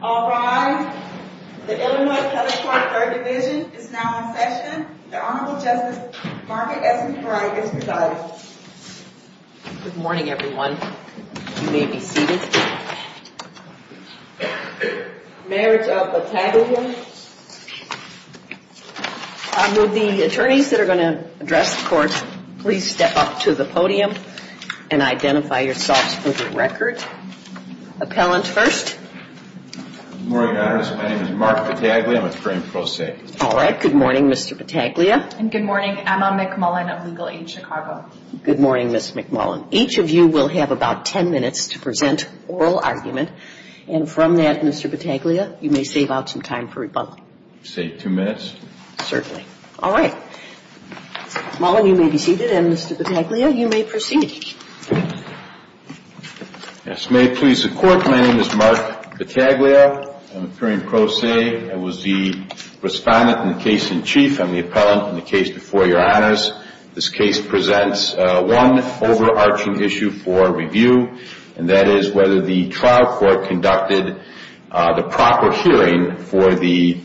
All rise. The Illinois Appellate Court 3rd Division is now in session. The Honorable Justice Margaret S. McBride is presiding. Good morning everyone. You may be seated. Mayor of Battaglia. Will the attorneys that are going to address the court please step up to the podium and identify yourselves for the record. Appellant first. Good morning, Your Honor. My name is Mark Battaglia. I'm a trained prosecutor. All right. Good morning, Mr. Battaglia. And good morning. Emma McMullen of Legal Aid Chicago. Good morning, Ms. McMullen. Each of you will have about 10 minutes to present oral argument. And from that, Mr. Battaglia, you may save out some time for rebuttal. Save two minutes? Certainly. All right. McMullen, you may be seated. And Mr. Battaglia, you may proceed. Yes. May it please the court. My name is Mark Battaglia. I'm a trained prose. I was the respondent in the case in chief and the appellant in the case before Your Honors. This case presents one overarching issue for review, and that is whether the trial court conducted the proper hearing for the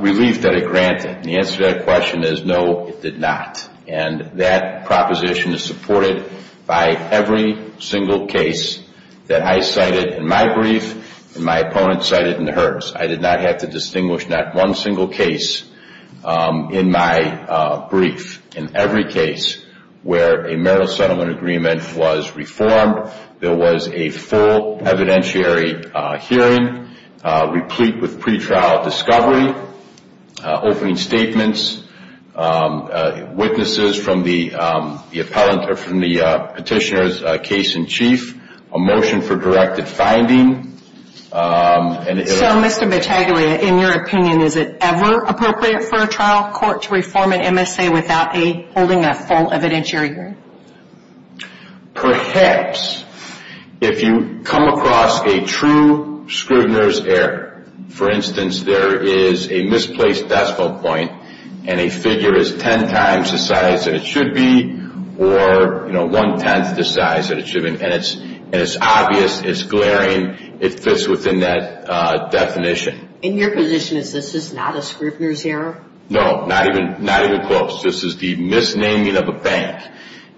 relief that it granted. And the answer to that question is no, it did not. And that proposition is supported by every single case that I cited in my brief and my opponent cited in hers. I did not have to distinguish not one single case in my brief. In every case where a marital settlement agreement was reformed, there was a full evidentiary hearing, replete with pretrial discovery, opening statements, witnesses from the petitioner's case in chief, a motion for directed finding. So, Mr. Battaglia, in your opinion, is it ever appropriate for a trial court to reform an MSA without holding a full evidentiary hearing? Perhaps. If you come across a true Scrivner's error. For instance, there is a misplaced decimal point and a figure is ten times the size that it should be or one-tenth the size that it should be. And it's obvious, it's glaring, it fits within that definition. In your position, is this not a Scrivner's error? No, not even close. This is the misnaming of a bank.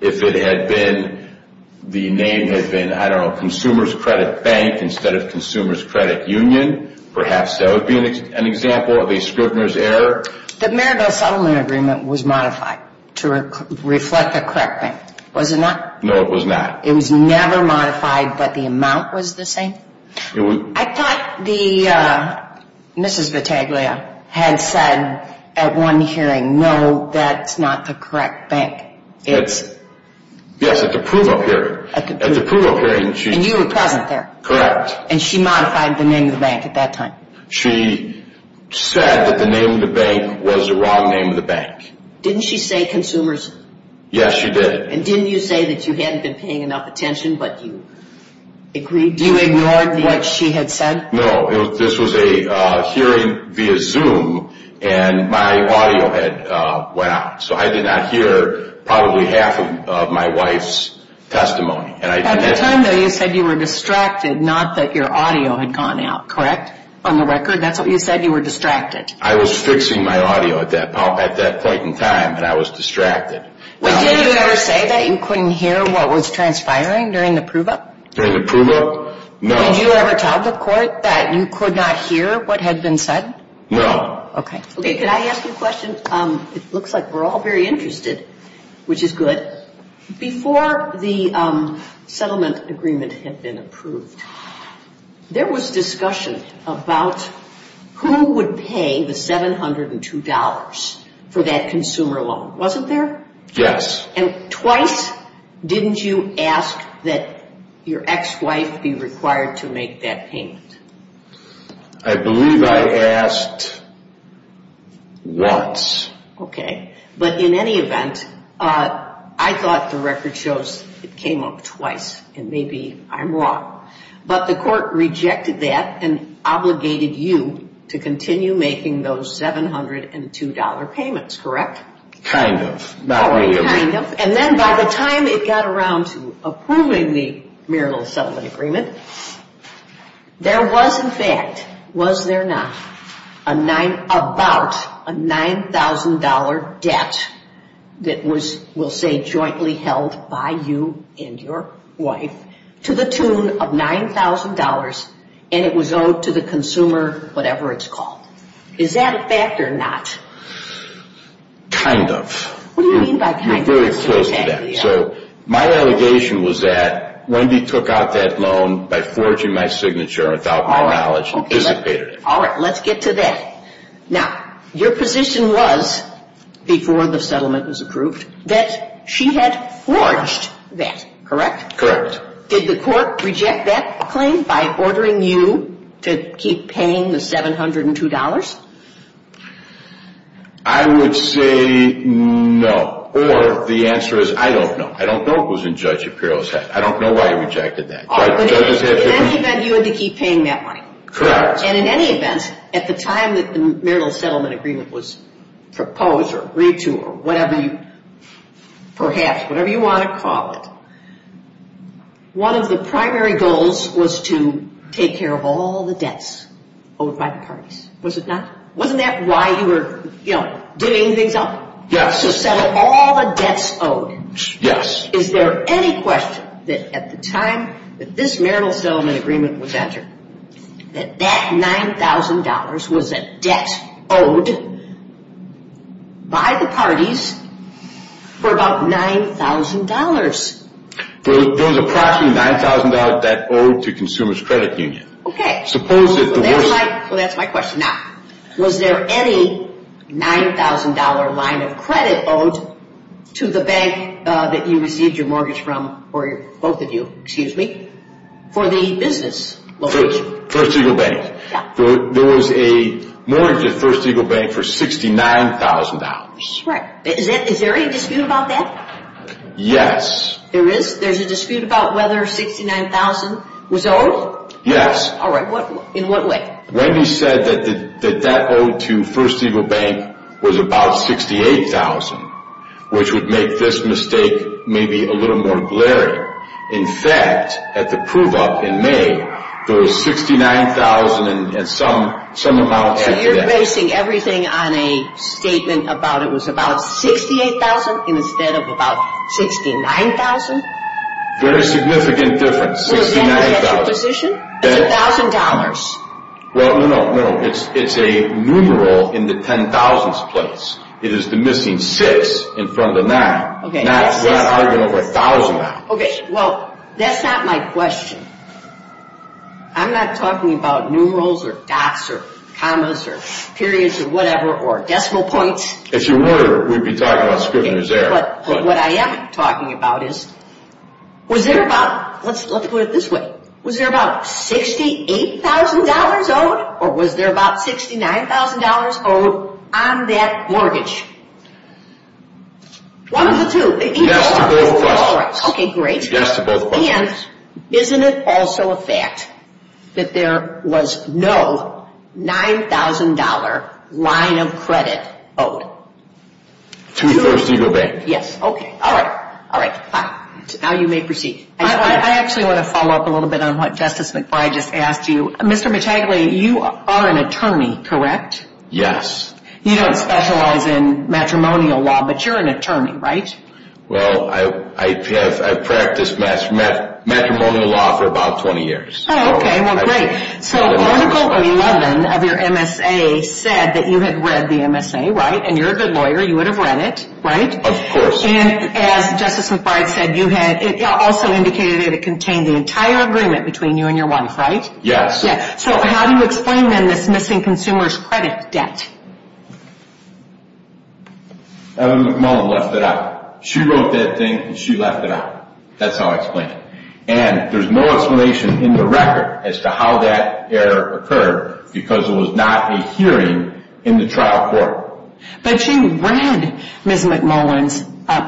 If it had been, the name had been, I don't know, Consumer's Credit Bank instead of Consumer's Credit Union, perhaps that would be an example of a Scrivner's error. The marital settlement agreement was modified to reflect the correct bank, was it not? No, it was not. It was never modified, but the amount was the same? I thought Mrs. Battaglia had said at one hearing, no, that's not the correct bank. Yes, at the approval hearing. And you were present there? Correct. And she modified the name of the bank at that time? She said that the name of the bank was the wrong name of the bank. Didn't she say consumers? Yes, she did. And didn't you say that you hadn't been paying enough attention, but you agreed to it? You ignored what she had said? No, this was a hearing via Zoom, and my audio had went out, so I did not hear probably half of my wife's testimony. At the time, though, you said you were distracted, not that your audio had gone out, correct? On the record, that's what you said, you were distracted. I was fixing my audio at that point in time, and I was distracted. Did it ever say that you couldn't hear what was transpiring during the prove-up? During the prove-up? No. Did you ever tell the court that you could not hear what had been said? No. Okay. Okay, can I ask you a question? It looks like we're all very interested, which is good. Before the settlement agreement had been approved, there was discussion about who would pay the $702 for that consumer loan, wasn't there? Yes. And twice didn't you ask that your ex-wife be required to make that payment? I believe I asked once. Okay, but in any event, I thought the record shows it came up twice, and maybe I'm wrong. But the court rejected that and obligated you to continue making those $702 payments, correct? Kind of, not really. Kind of, and then by the time it got around to approving the Myrtle Settlement Agreement, there was in fact, was there not, about a $9,000 debt that was, we'll say, jointly held by you and your wife to the tune of $9,000, and it was owed to the consumer, whatever it's called. Is that a fact or not? Kind of. What do you mean by kind of? You're very close to that. So my allegation was that Wendy took out that loan by forging my signature without my knowledge and dissipated it. All right, let's get to that. Now, your position was, before the settlement was approved, that she had forged that, correct? Correct. Did the court reject that claim by ordering you to keep paying the $702? I would say no. Or the answer is I don't know. I don't know it was in Judge Apparel's head. I don't know why he rejected that. But in any event, you had to keep paying that money. Correct. And in any event, at the time that the Myrtle Settlement Agreement was proposed or agreed to, perhaps, whatever you want to call it, one of the primary goals was to take care of all the debts owed by the parties. Was it not? Wasn't that why you were doing things up? Yes. So settle all the debts owed. Yes. Is there any question that at the time that this Myrtle Settlement Agreement was entered, that that $9,000 was a debt owed by the parties for about $9,000? There was approximately a $9,000 debt owed to Consumers Credit Union. Okay. So that's my question. Now, was there any $9,000 line of credit owed to the bank that you received your mortgage from, or both of you, excuse me, for the business location? First Eagle Bank. Yeah. There was a mortgage at First Eagle Bank for $69,000. Correct. Is there any dispute about that? Yes. There is? There's a dispute about whether $69,000 was owed? Yes. All right. In what way? Wendy said that the debt owed to First Eagle Bank was about $68,000, which would make this mistake maybe a little more glaring. In fact, at the prove-up in May, there was $69,000 and some amount added after that. So you're basing everything on a statement about it was about $68,000 instead of about $69,000? Very significant difference, $69,000. Well, is that how you get your position? It's $1,000. Well, no, no. It's a numeral in the 10,000s place. It is the missing six in front of the nine. Okay. Not arguing over $1,000. Okay. Well, that's not my question. I'm not talking about numerals or dots or commas or periods or whatever or decimal points. If you were, we'd be talking about Scrivener's Error. What I am talking about is was there about – let's put it this way. Was there about $68,000 owed or was there about $69,000 owed on that mortgage? One of the two. Yes, to both of us. Okay, great. Yes, to both of us. And isn't it also a fact that there was no $9,000 line of credit owed? To First Eagle Bank. Yes. Okay. All right. All right. Fine. Now you may proceed. I actually want to follow up a little bit on what Justice McBride just asked you. Mr. Metagli, you are an attorney, correct? Yes. You don't specialize in matrimonial law, but you're an attorney, right? Well, I've practiced matrimonial law for about 20 years. Oh, okay. Well, great. So Article 11 of your MSA said that you had read the MSA, right? And you're a good lawyer. You would have read it, right? Of course. And as Justice McBride said, it also indicated that it contained the entire agreement between you and your wife, right? Yes. Yes. So how do you explain, then, this missing consumer's credit debt? Ellen McMullen left it out. She wrote that thing, and she left it out. That's how I explain it. And there's no explanation in the record as to how that error occurred because it was not a hearing in the trial court. But you read Ms. McMullen's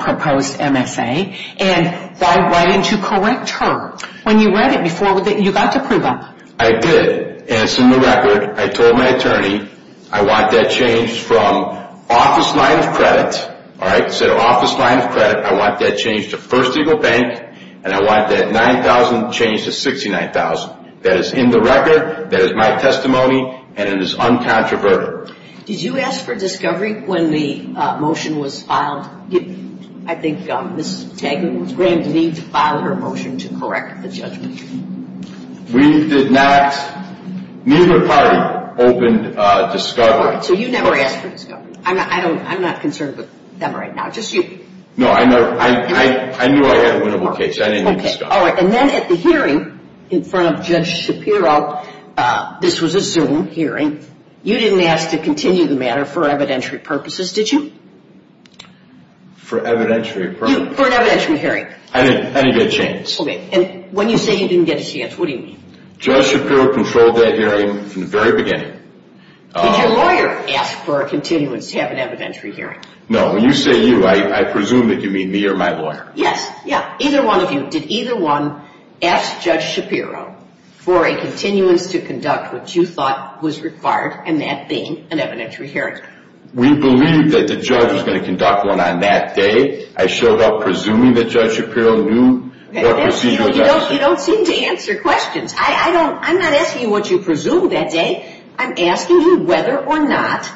proposed MSA, and why didn't you correct her? When you read it before, you got to prove them. I did. And it's in the record. I told my attorney I want that changed from office line of credit, all right? So the office line of credit, I want that changed to First Eagle Bank, and I want that 9,000 changed to 69,000. That is in the record, that is my testimony, and it is uncontroverted. Did you ask for discovery when the motion was filed? I think Ms. Taggart was going to need to file her motion to correct the judgment. We did not. Neither party opened discovery. So you never asked for discovery. I'm not concerned with them right now, just you. No, I knew I had a winnable case. I didn't ask for discovery. All right, and then at the hearing in front of Judge Shapiro, this was a Zoom hearing, you didn't ask to continue the matter for evidentiary purposes, did you? For evidentiary purposes? For an evidentiary hearing. I didn't get a chance. Okay, and when you say you didn't get a chance, what do you mean? Judge Shapiro controlled that hearing from the very beginning. Did your lawyer ask for a continuance to have an evidentiary hearing? No, when you say you, I presume that you mean me or my lawyer. Yes, yeah. Did either one of you, did either one ask Judge Shapiro for a continuance to conduct what you thought was required and that being an evidentiary hearing? We believed that the judge was going to conduct one on that day. I showed up presuming that Judge Shapiro knew what procedure was necessary. You don't seem to answer questions. I'm not asking you what you presumed that day. I'm asking you whether or not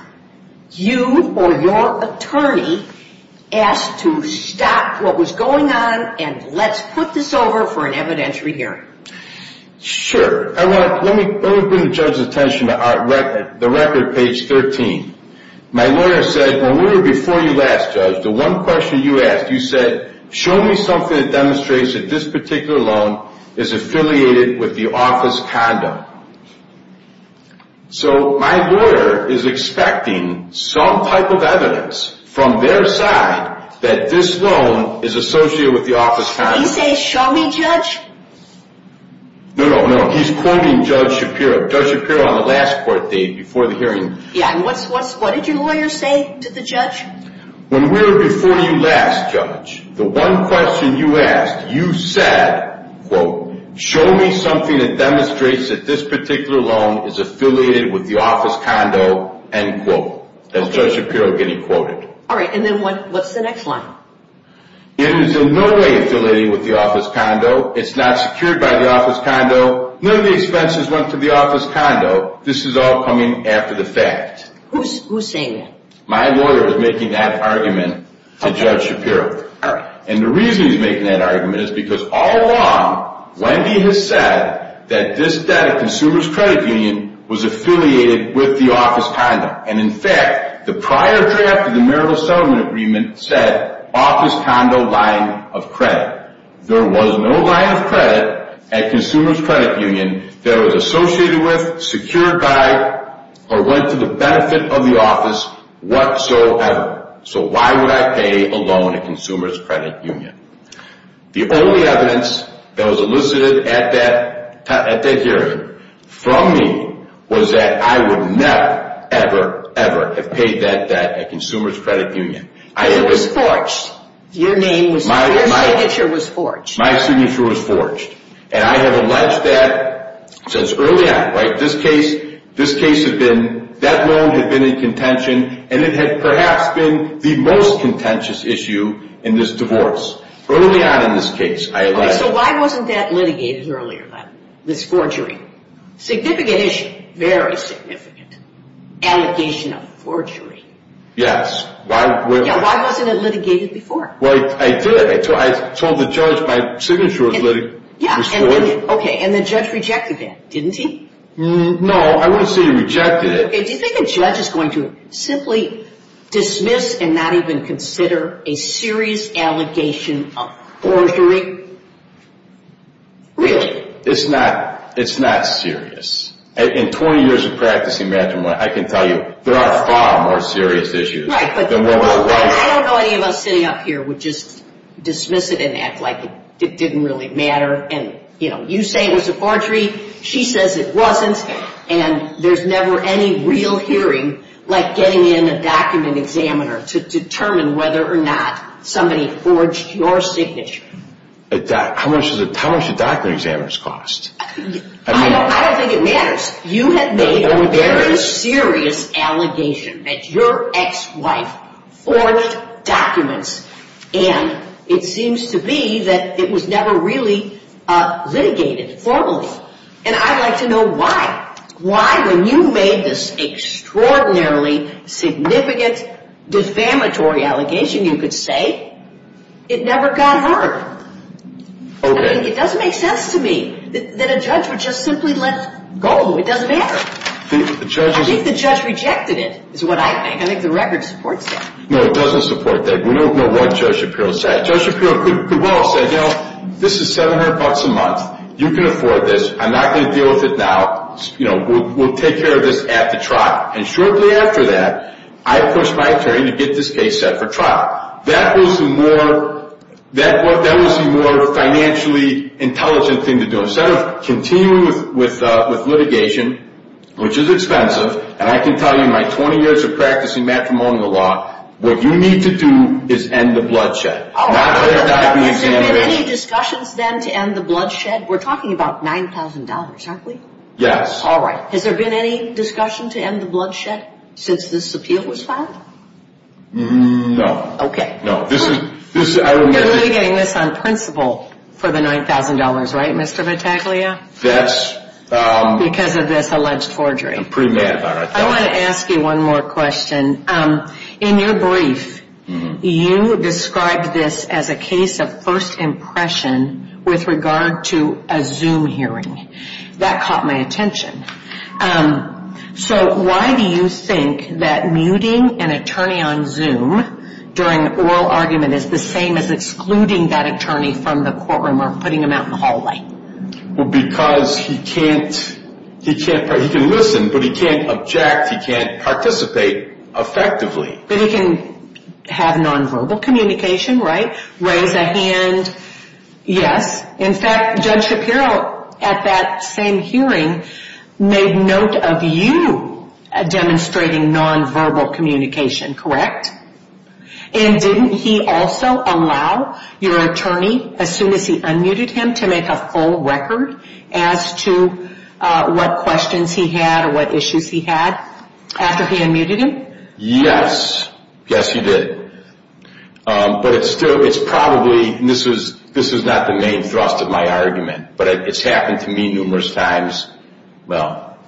you or your attorney asked to stop what was going on and let's put this over for an evidentiary hearing. Sure. Let me bring the judge's attention to the record, page 13. My lawyer said, and we were before you last, Judge, the one question you asked, you said, show me something that demonstrates that this particular loan is affiliated with the office condo. So my lawyer is expecting some type of evidence from their side that this loan is associated with the office condo. Did he say, show me, Judge? No, no, no, he's quoting Judge Shapiro. Judge Shapiro on the last court date before the hearing. When we were before you last, Judge, the one question you asked, you said, quote, show me something that demonstrates that this particular loan is affiliated with the office condo, end quote. That's Judge Shapiro getting quoted. All right, and then what's the next line? It is in no way affiliated with the office condo. It's not secured by the office condo. None of these fences went to the office condo. This is all coming after the fact. Who's saying that? My lawyer is making that argument to Judge Shapiro. All right. And the reason he's making that argument is because all along, Wendy has said that this debt of consumers' credit union was affiliated with the office condo. And, in fact, the prior draft of the marital settlement agreement said office condo line of credit. There was no line of credit at consumers' credit union that was associated with, secured by, or went to the benefit of the office whatsoever. So why would I pay a loan at consumers' credit union? The only evidence that was elicited at that hearing from me was that I would never, ever, ever have paid that debt at consumers' credit union. It was forged. Your name was forged. Your signature was forged. My signature was forged. And I have alleged that since early on. This case had been, that loan had been in contention, and it had perhaps been the most contentious issue in this divorce. Early on in this case, I alleged. So why wasn't that litigated earlier, this forgery? Significant issue. Very significant. Allegation of forgery. Yes. Why wasn't it litigated before? Well, I did. I told the judge my signature was forged. Okay, and the judge rejected that, didn't he? No, I wouldn't say he rejected it. Okay, do you think a judge is going to simply dismiss and not even consider a serious allegation of forgery? Really? It's not serious. In 20 years of practicing matrimony, I can tell you, there are far more serious issues than what was alleged. Right, but I don't know any of us sitting up here would just dismiss it and act like it didn't really matter. And, you know, you say it was a forgery, she says it wasn't, and there's never any real hearing like getting in a document examiner to determine whether or not somebody forged your signature. How much do document examiners cost? I don't think it matters. You have made a very serious allegation that your ex-wife forged documents, and it seems to me that it was never really litigated formally. And I'd like to know why. Why, when you made this extraordinarily significant defamatory allegation, you could say it never got heard? It doesn't make sense to me that a judge would just simply let go. It doesn't matter. I think the judge rejected it is what I think. I think the record supports that. No, it doesn't support that. We don't know what Judge Shapiro said. Judge Shapiro could well have said, you know, this is $700 a month. You can afford this. I'm not going to deal with it now. We'll take care of this after trial. And shortly after that, I pushed my attorney to get this case set for trial. That was the more financially intelligent thing to do. Instead of continuing with litigation, which is expensive, and I can tell you my 20 years of practicing matrimonial law, what you need to do is end the bloodshed. All right. Has there been any discussions, then, to end the bloodshed? We're talking about $9,000, aren't we? Yes. All right. Has there been any discussion to end the bloodshed since this appeal was filed? No. Okay. No. You're litigating this on principle for the $9,000, right, Mr. Battaglia? Yes. Because of this alleged forgery. I'm pretty mad about it. I want to ask you one more question. In your brief, you described this as a case of first impression with regard to a Zoom hearing. That caught my attention. So why do you think that muting an attorney on Zoom during oral argument is the same as excluding that attorney from the courtroom or putting him out in the hallway? Well, because he can't listen, but he can't object. In fact, he can't participate effectively. But he can have nonverbal communication, right? Raise a hand. Yes. In fact, Judge Shapiro, at that same hearing, made note of you demonstrating nonverbal communication, correct? And didn't he also allow your attorney, as soon as he unmuted him, to make a full record as to what questions he had or what issues he had after he unmuted him? Yes. Yes, he did. But it's probably, this is not the main thrust of my argument, but it's happened to me numerous times. Well,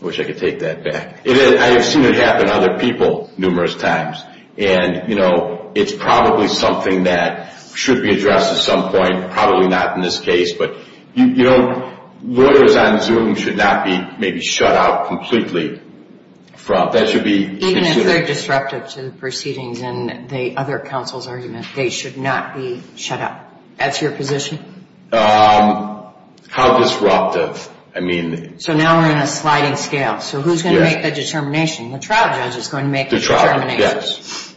I wish I could take that back. I have seen it happen to other people numerous times. And, you know, it's probably something that should be addressed at some point. Probably not in this case. But, you know, lawyers on Zoom should not be maybe shut out completely. That should be considered. Even if they're disruptive to the proceedings and the other counsel's argument, they should not be shut out. That's your position? How disruptive? So now we're in a sliding scale. So who's going to make the determination? The trial judge is going to make the determination. Yes.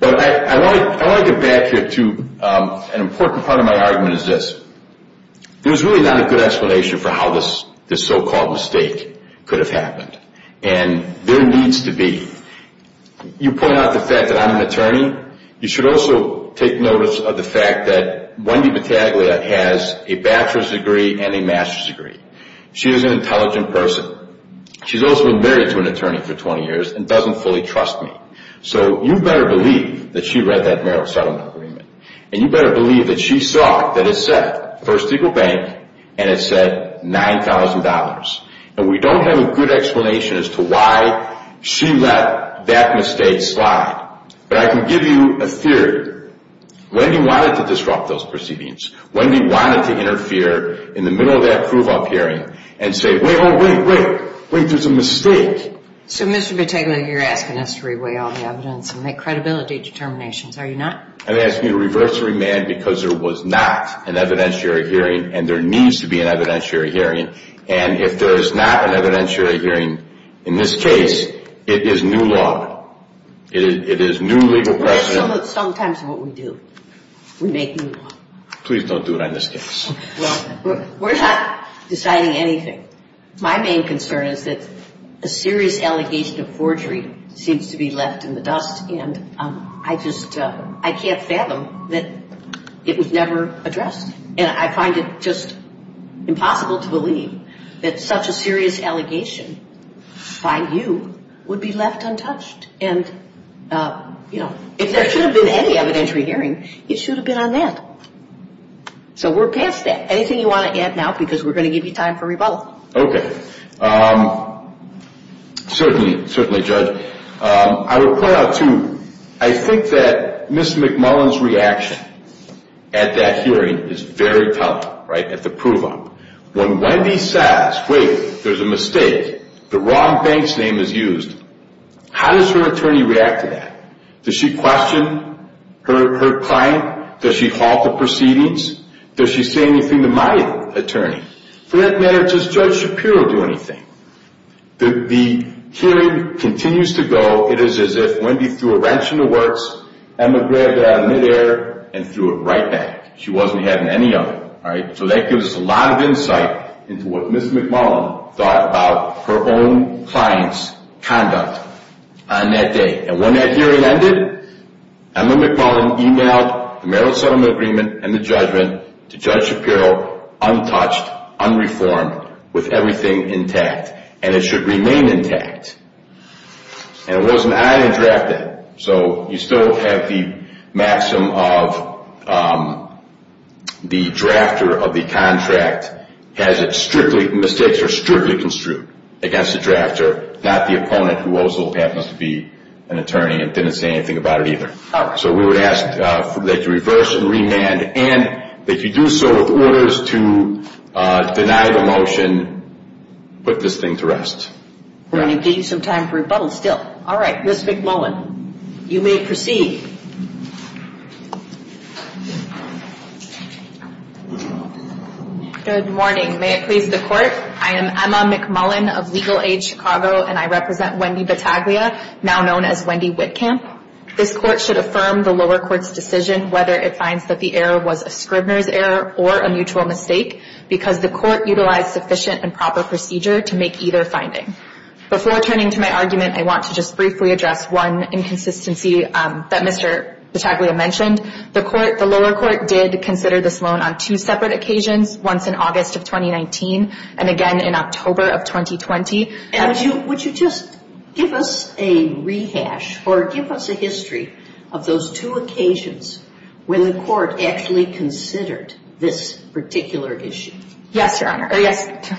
But I want to get back here to an important part of my argument is this. There's really not a good explanation for how this so-called mistake could have happened. And there needs to be. You point out the fact that I'm an attorney. You should also take notice of the fact that Wendy Battaglia has a bachelor's degree and a master's degree. She is an intelligent person. She's also been married to an attorney for 20 years and doesn't fully trust me. So you better believe that she read that marital settlement agreement. And you better believe that she saw that it said First Eagle Bank and it said $9,000. And we don't have a good explanation as to why she let that mistake slide. But I can give you a theory. Wendy wanted to disrupt those proceedings. Wendy wanted to interfere in the middle of that prove-up hearing and say, wait, wait, wait. Wait, there's a mistake. So, Mr. Battaglia, you're asking us to reweigh all the evidence and make credibility determinations, are you not? I'm asking you to reverse the remand because there was not an evidentiary hearing and there needs to be an evidentiary hearing. And if there is not an evidentiary hearing in this case, it is new law. It is new legal precedent. That's sometimes what we do. We make new law. Please don't do it on this case. Well, we're not deciding anything. My main concern is that a serious allegation of forgery seems to be left in the dust and I just can't fathom that it was never addressed. And I find it just impossible to believe that such a serious allegation by you would be left untouched. And, you know, if there should have been any evidentiary hearing, it should have been on that. So we're past that. Anything you want to add now? Because we're going to give you time for rebuttal. Okay. Certainly, certainly, Judge. I will point out, too, I think that Ms. McMullen's reaction at that hearing is very telling, right, at the prove-up. When Wendy says, wait, there's a mistake, the wrong bank's name is used, how does her attorney react to that? Does she question her client? Does she halt the proceedings? Does she say anything to my attorney? For that matter, does Judge Shapiro do anything? The hearing continues to go. It is as if Wendy threw a wrench in the works, Emma grabbed it out of midair, and threw it right back. She wasn't having any of it, all right? So that gives us a lot of insight into what Ms. McMullen thought about her own client's conduct on that day. And when that hearing ended, Emma McMullen emailed the merits settlement agreement and the judgment to Judge Shapiro untouched, unreformed, with everything intact. And it should remain intact. And it wasn't added or drafted. So you still have the maxim of the drafter of the contract has it strictly, mistakes are strictly construed against the drafter, not the opponent who also happens to be an attorney and didn't say anything about it either. So we would ask that you reverse and remand, and that you do so with orders to deny the motion, put this thing to rest. We're going to give you some time for rebuttal still. All right, Ms. McMullen, you may proceed. Good morning. May it please the Court? I am Emma McMullen of Legal Aid Chicago, and I represent Wendy Battaglia, now known as Wendy Wittkamp. This Court should affirm the lower court's decision, whether it finds that the error was a Scribner's error or a mutual mistake, because the Court utilized sufficient and proper procedure to make either finding. Before turning to my argument, I want to just briefly address one inconsistency that Mr. Battaglia mentioned. The lower court did consider this loan on two separate occasions, once in August of 2019 and again in October of 2020. And would you just give us a rehash or give us a history of those two occasions when the Court actually considered this particular issue? Yes, Your Honor, or yes,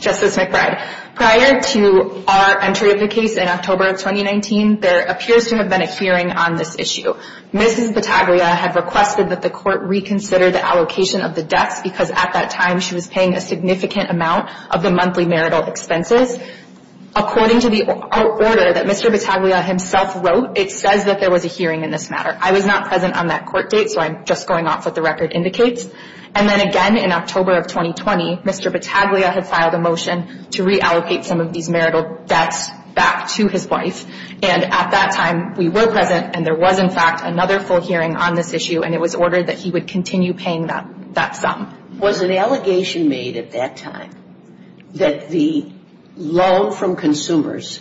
Justice McBride. Prior to our entry of the case in October of 2019, there appears to have been a hearing on this issue. Mrs. Battaglia had requested that the Court reconsider the allocation of the debts, because at that time she was paying a significant amount of the monthly marital expenses. According to the order that Mr. Battaglia himself wrote, it says that there was a hearing in this matter. I was not present on that court date, so I'm just going off what the record indicates. And then again in October of 2020, Mr. Battaglia had filed a motion to reallocate some of these marital debts back to his wife. And at that time, we were present, and there was in fact another full hearing on this issue, and it was ordered that he would continue paying that sum. Was an allegation made at that time that the loan from consumers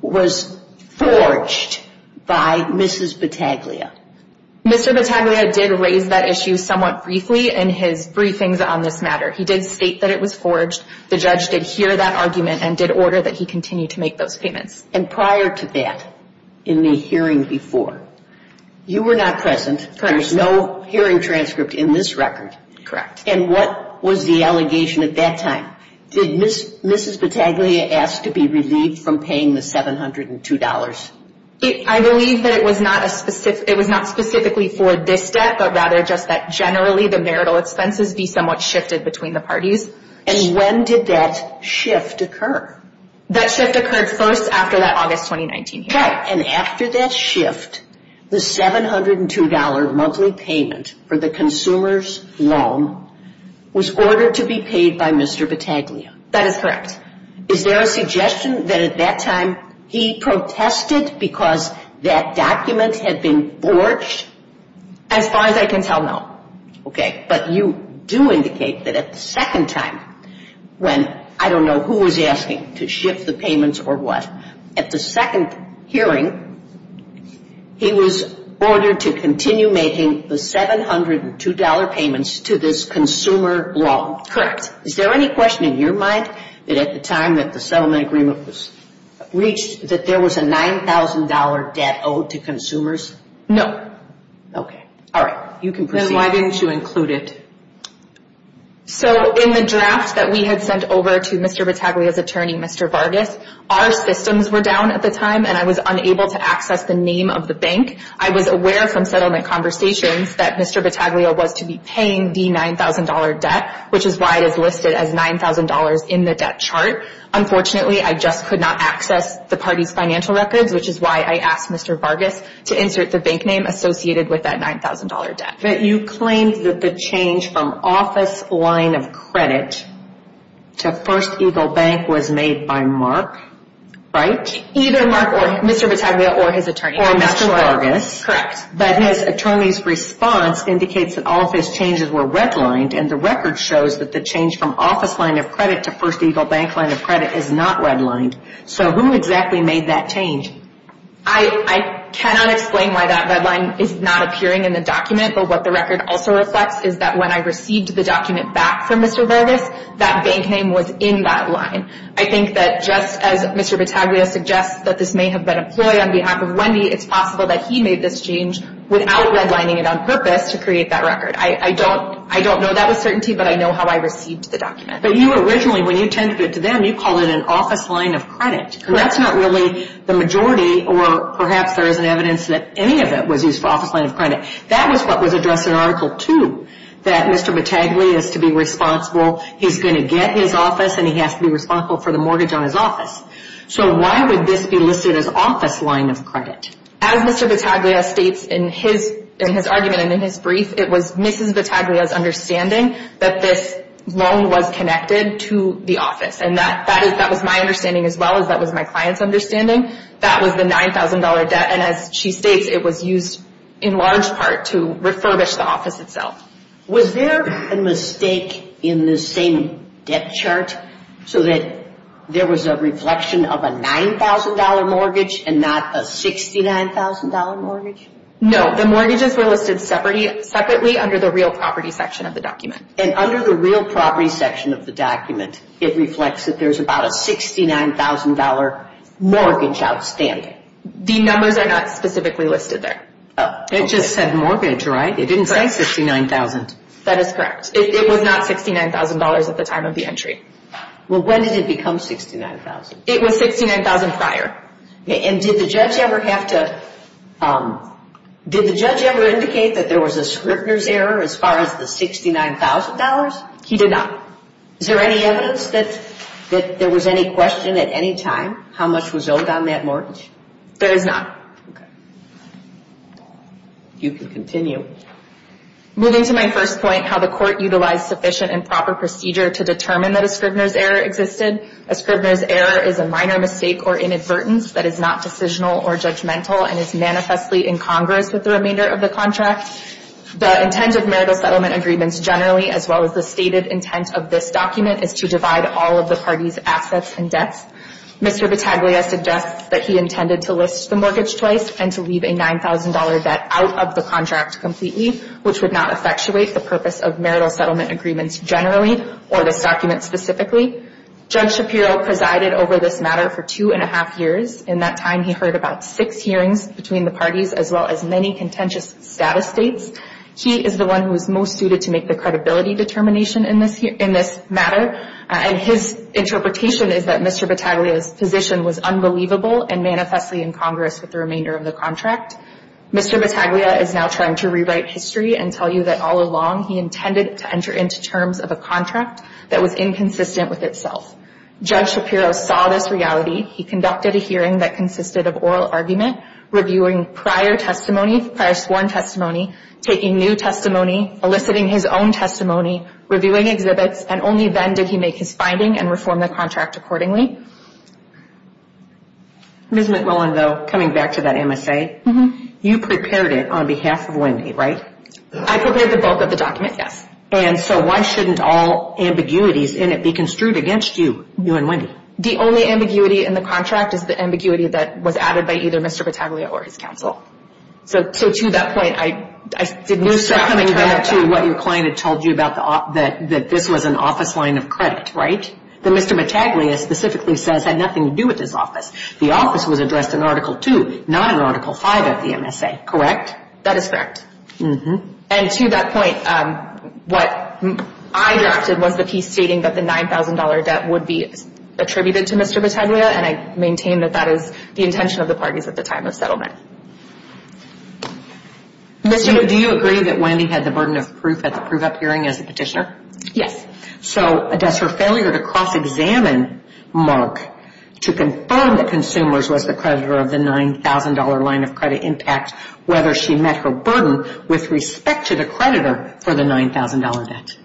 was forged by Mrs. Battaglia? Mr. Battaglia did raise that issue somewhat briefly in his briefings on this matter. He did state that it was forged. The judge did hear that argument and did order that he continue to make those payments. And prior to that, in the hearing before, you were not present. Correct. There's no hearing transcript in this record. Correct. And what was the allegation at that time? Did Mrs. Battaglia ask to be relieved from paying the $702? I believe that it was not specifically for this debt, but rather just that generally the marital expenses be somewhat shifted between the parties. And when did that shift occur? That shift occurred first after that August 2019 hearing. Right. And after that shift, the $702 monthly payment for the consumer's loan was ordered to be paid by Mr. Battaglia. That is correct. Is there a suggestion that at that time he protested because that document had been forged? As far as I can tell, no. Okay. But you do indicate that at the second time, when I don't know who was asking to shift the payments or what, at the second hearing, he was ordered to continue making the $702 payments to this consumer loan. Correct. Is there any question in your mind that at the time that the settlement agreement was reached, that there was a $9,000 debt owed to consumers? No. Okay. All right. You can proceed. Why didn't you include it? So in the draft that we had sent over to Mr. Battaglia's attorney, Mr. Vargas, our systems were down at the time, and I was unable to access the name of the bank. I was aware from settlement conversations that Mr. Battaglia was to be paying the $9,000 debt, which is why it is listed as $9,000 in the debt chart. Unfortunately, I just could not access the party's financial records, which is why I asked Mr. Vargas to insert the bank name associated with that $9,000 debt. You claimed that the change from office line of credit to First Eagle Bank was made by Mark, right? Either Mark or Mr. Battaglia or his attorney. Or Mr. Vargas. Correct. But his attorney's response indicates that all of his changes were redlined, and the record shows that the change from office line of credit to First Eagle Bank line of credit is not redlined. So who exactly made that change? I cannot explain why that redline is not appearing in the document, but what the record also reflects is that when I received the document back from Mr. Vargas, that bank name was in that line. I think that just as Mr. Battaglia suggests that this may have been a ploy on behalf of Wendy, it's possible that he made this change without redlining it on purpose to create that record. I don't know that with certainty, but I know how I received the document. But you originally, when you tended it to them, you called it an office line of credit. Correct. But that's not really the majority, or perhaps there isn't evidence that any of it was used for office line of credit. That was what was addressed in Article 2, that Mr. Battaglia is to be responsible. He's going to get his office, and he has to be responsible for the mortgage on his office. So why would this be listed as office line of credit? As Mr. Battaglia states in his argument and in his brief, it was Mrs. Battaglia's understanding that this loan was connected to the office. And that was my understanding as well as that was my client's understanding. That was the $9,000 debt, and as she states, it was used in large part to refurbish the office itself. Was there a mistake in the same debt chart so that there was a reflection of a $9,000 mortgage and not a $69,000 mortgage? No. The mortgages were listed separately under the real property section of the document. And under the real property section of the document, it reflects that there's about a $69,000 mortgage outstanding. The numbers are not specifically listed there. It just said mortgage, right? It didn't say $69,000. That is correct. It was not $69,000 at the time of the entry. Well, when did it become $69,000? It was $69,000 prior. And did the judge ever have to – did the judge ever indicate that there was a Scribner's error as far as the $69,000? He did not. Is there any evidence that there was any question at any time how much was owed on that mortgage? There is not. Okay. You can continue. Moving to my first point, how the court utilized sufficient and proper procedure to determine that a Scribner's error existed. A Scribner's error is a minor mistake or inadvertence that is not decisional or judgmental and is manifestly incongruous with the remainder of the contract. The intent of marital settlement agreements generally, as well as the stated intent of this document, is to divide all of the parties' assets and debts. Mr. Vitaglia suggests that he intended to list the mortgage twice and to leave a $9,000 debt out of the contract completely, which would not effectuate the purpose of marital settlement agreements generally or this document specifically. Judge Shapiro presided over this matter for two and a half years. In that time, he heard about six hearings between the parties, as well as many contentious status states. He is the one who is most suited to make the credibility determination in this matter, and his interpretation is that Mr. Vitaglia's position was unbelievable and manifestly incongruous with the remainder of the contract. Mr. Vitaglia is now trying to rewrite history and tell you that all along, he intended to enter into terms of a contract that was inconsistent with itself. Judge Shapiro saw this reality. He conducted a hearing that consisted of oral argument, reviewing prior sworn testimony, taking new testimony, eliciting his own testimony, reviewing exhibits, and only then did he make his finding and reform the contract accordingly. Ms. McMillan, though, coming back to that MSA, you prepared it on behalf of Wendy, right? I prepared the bulk of the document, yes. And so why shouldn't all ambiguities in it be construed against you, you and Wendy? The only ambiguity in the contract is the ambiguity that was added by either Mr. Vitaglia or his counsel. So to that point, I didn't distract from the character. You're coming back to what your client had told you about that this was an office line of credit, right? That Mr. Vitaglia specifically says had nothing to do with this office. The office was addressed in Article II, not in Article V of the MSA, correct? That is correct. And to that point, what I drafted was the piece stating that the $9,000 debt would be attributed to Mr. Vitaglia, and I maintain that that is the intention of the parties at the time of settlement. Ms. Shapiro, do you agree that Wendy had the burden of proof at the proof-up hearing as a petitioner? Yes. So does her failure to cross-examine Mark to confirm that Consumers was the creditor of the $9,000 line of credit impact, whether she met her burden with respect to the creditor for the $9,000 debt?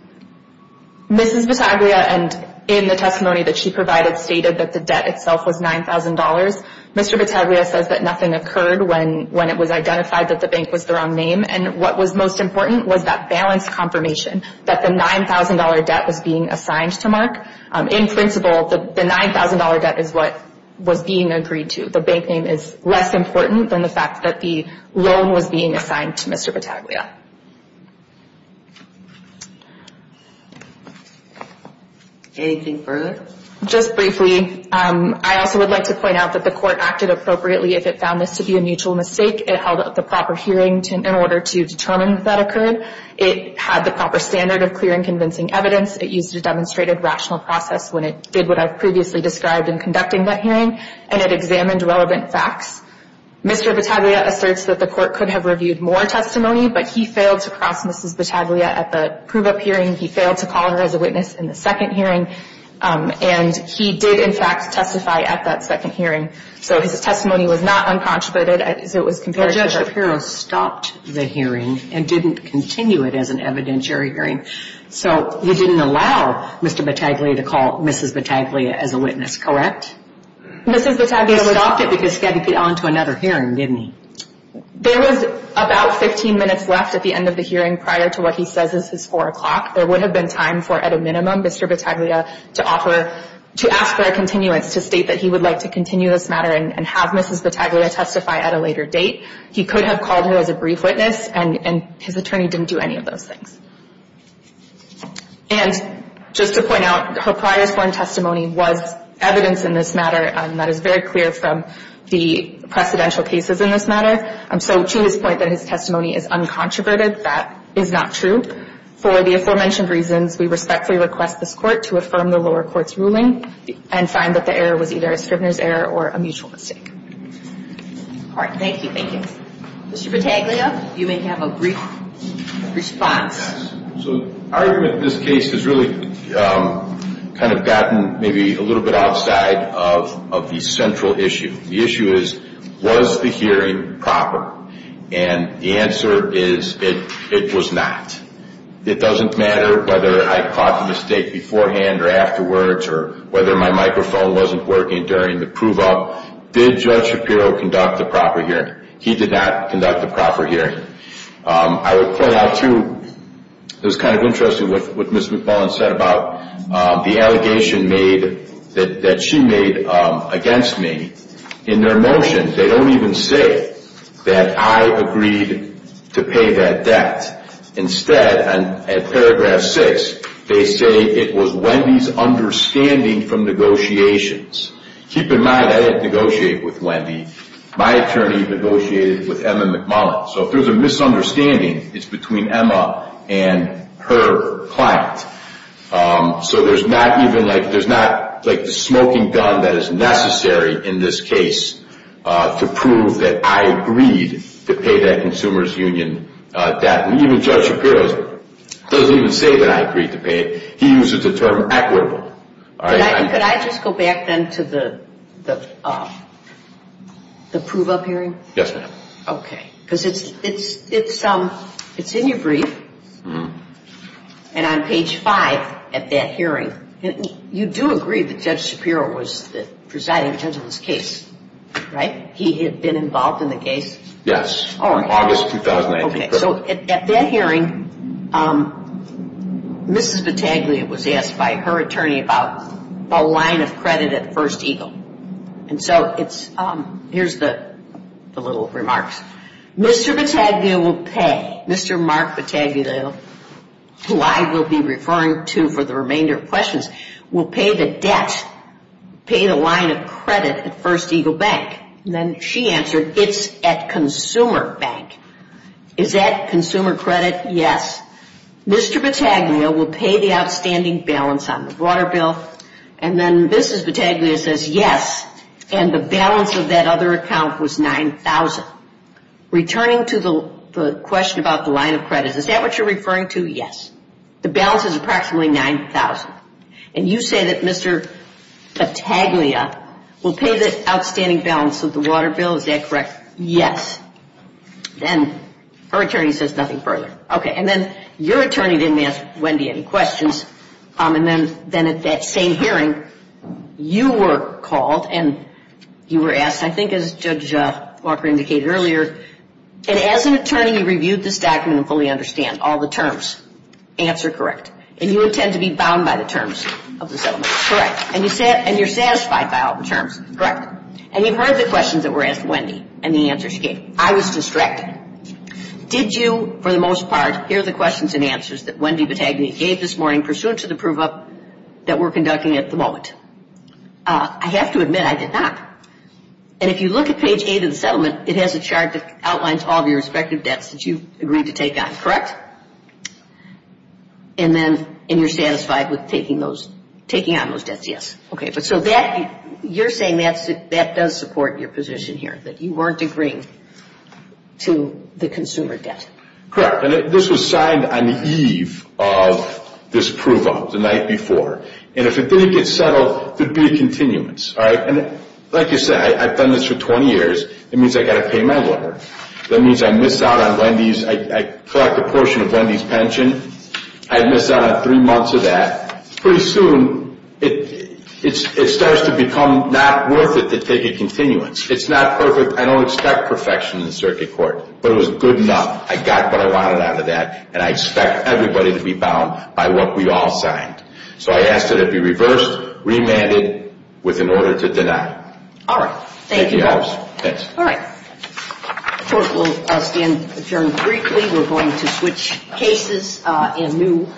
Mrs. Vitaglia, in the testimony that she provided, stated that the debt itself was $9,000. Mr. Vitaglia says that nothing occurred when it was identified that the bank was the wrong name, and what was most important was that balance confirmation that the $9,000 debt was being assigned to Mark. In principle, the $9,000 debt is what was being agreed to. The bank name is less important than the fact that the loan was being assigned to Mr. Vitaglia. Anything further? Just briefly, I also would like to point out that the Court acted appropriately if it found this to be a mutual mistake. It held up the proper hearing in order to determine that that occurred. It had the proper standard of clear and convincing evidence. It used a demonstrated rational process when it did what I've previously described in conducting that hearing, and it examined relevant facts. Mr. Vitaglia asserts that the Court could have reviewed more testimony, but he failed to cross Mrs. Vitaglia at the prove-up hearing. He failed to call her as a witness in the second hearing. And he did, in fact, testify at that second hearing. So his testimony was not uncontributed as it was compared to her. But Judge Shapiro stopped the hearing and didn't continue it as an evidentiary hearing. So you didn't allow Mr. Vitaglia to call Mrs. Vitaglia as a witness, correct? Mrs. Vitaglia was... You stopped it because he had to get on to another hearing, didn't he? There was about 15 minutes left at the end of the hearing prior to what he says is his 4 o'clock. There would have been time for, at a minimum, Mr. Vitaglia to offer to ask for a continuance to state that he would like to continue this matter and have Mrs. Vitaglia testify at a later date. He could have called her as a brief witness, and his attorney didn't do any of those things. And just to point out, her prior sworn testimony was evidence in this matter that is very clear from the precedential cases in this matter. So to his point that his testimony is uncontroverted, that is not true. For the aforementioned reasons, we respectfully request this Court to affirm the lower court's ruling and find that the error was either a Scribner's error or a mutual mistake. All right. Thank you. Thank you. Mr. Vitaglia, you may have a brief response. So the argument in this case has really kind of gotten maybe a little bit outside of the central issue. The issue is, was the hearing proper? And the answer is, it was not. It doesn't matter whether I caught the mistake beforehand or afterwards or whether my microphone wasn't working during the prove-up. Did Judge Shapiro conduct a proper hearing? He did not conduct a proper hearing. I would point out, too, it was kind of interesting what Ms. McMullen said about the allegation that she made against me. In their motion, they don't even say that I agreed to pay that debt. Instead, at paragraph 6, they say it was Wendy's understanding from negotiations. Keep in mind, I didn't negotiate with Wendy. My attorney negotiated with Emma McMullen. So if there's a misunderstanding, it's between Emma and her client. So there's not even like the smoking gun that is necessary in this case to prove that I agreed to pay that consumer's union debt. Even Judge Shapiro doesn't even say that I agreed to pay it. He uses the term equitable. Could I just go back, then, to the prove-up hearing? Yes, ma'am. Okay. Because it's in your brief, and on page 5 at that hearing, you do agree that Judge Shapiro was the presiding judge of this case, right? He had been involved in the case? Yes. Oh, okay. In August 2019. Okay, so at that hearing, Mrs. Battaglia was asked by her attorney about the line of credit at First Eagle. And so here's the little remarks. Mr. Battaglia will pay. Mr. Mark Battaglia, who I will be referring to for the remainder of questions, will pay the debt, pay the line of credit at First Eagle Bank. And then she answered, it's at Consumer Bank. Is that consumer credit? Yes. Mr. Battaglia will pay the outstanding balance on the water bill. And then Mrs. Battaglia says, yes, and the balance of that other account was $9,000. Returning to the question about the line of credit, is that what you're referring to? Yes. The balance is approximately $9,000. And you say that Mr. Battaglia will pay the outstanding balance of the water bill. Is that correct? Yes. And her attorney says nothing further. Okay, and then your attorney didn't ask Wendy any questions. And then at that same hearing, you were called and you were asked, I think as Judge Walker indicated earlier, and as an attorney you reviewed this document and fully understand all the terms. Answer correct. And you intend to be bound by the terms of the settlement. Correct. And you're satisfied by all the terms. Correct. And you've heard the questions that were asked to Wendy and the answers she gave. I was distracted. Did you, for the most part, hear the questions and answers that Wendy Battaglia gave this morning pursuant to the prove-up that we're conducting at the moment? I have to admit I did not. And if you look at page 8 of the settlement, it has a chart that outlines all of your respective debts that you've agreed to take on. Correct? Correct. And you're satisfied with taking on those debts? Yes. Okay. So you're saying that does support your position here, that you weren't agreeing to the consumer debt? Correct. And this was signed on the eve of this prove-up the night before. And if it didn't get settled, there would be a continuance. And like you said, I've done this for 20 years. It means I've got to pay my lawyer. That means I miss out on Wendy's. I collect a portion of Wendy's pension. I miss out on three months of that. Pretty soon, it starts to become not worth it to take a continuance. It's not perfect. I don't expect perfection in the circuit court, but it was good enough. I got what I wanted out of that, and I expect everybody to be bound by what we all signed. So I asked that it be reversed, remanded, with an order to deny. All right. Thank you. Thanks. All right. Court will stand adjourned briefly. We're going to switch cases and move.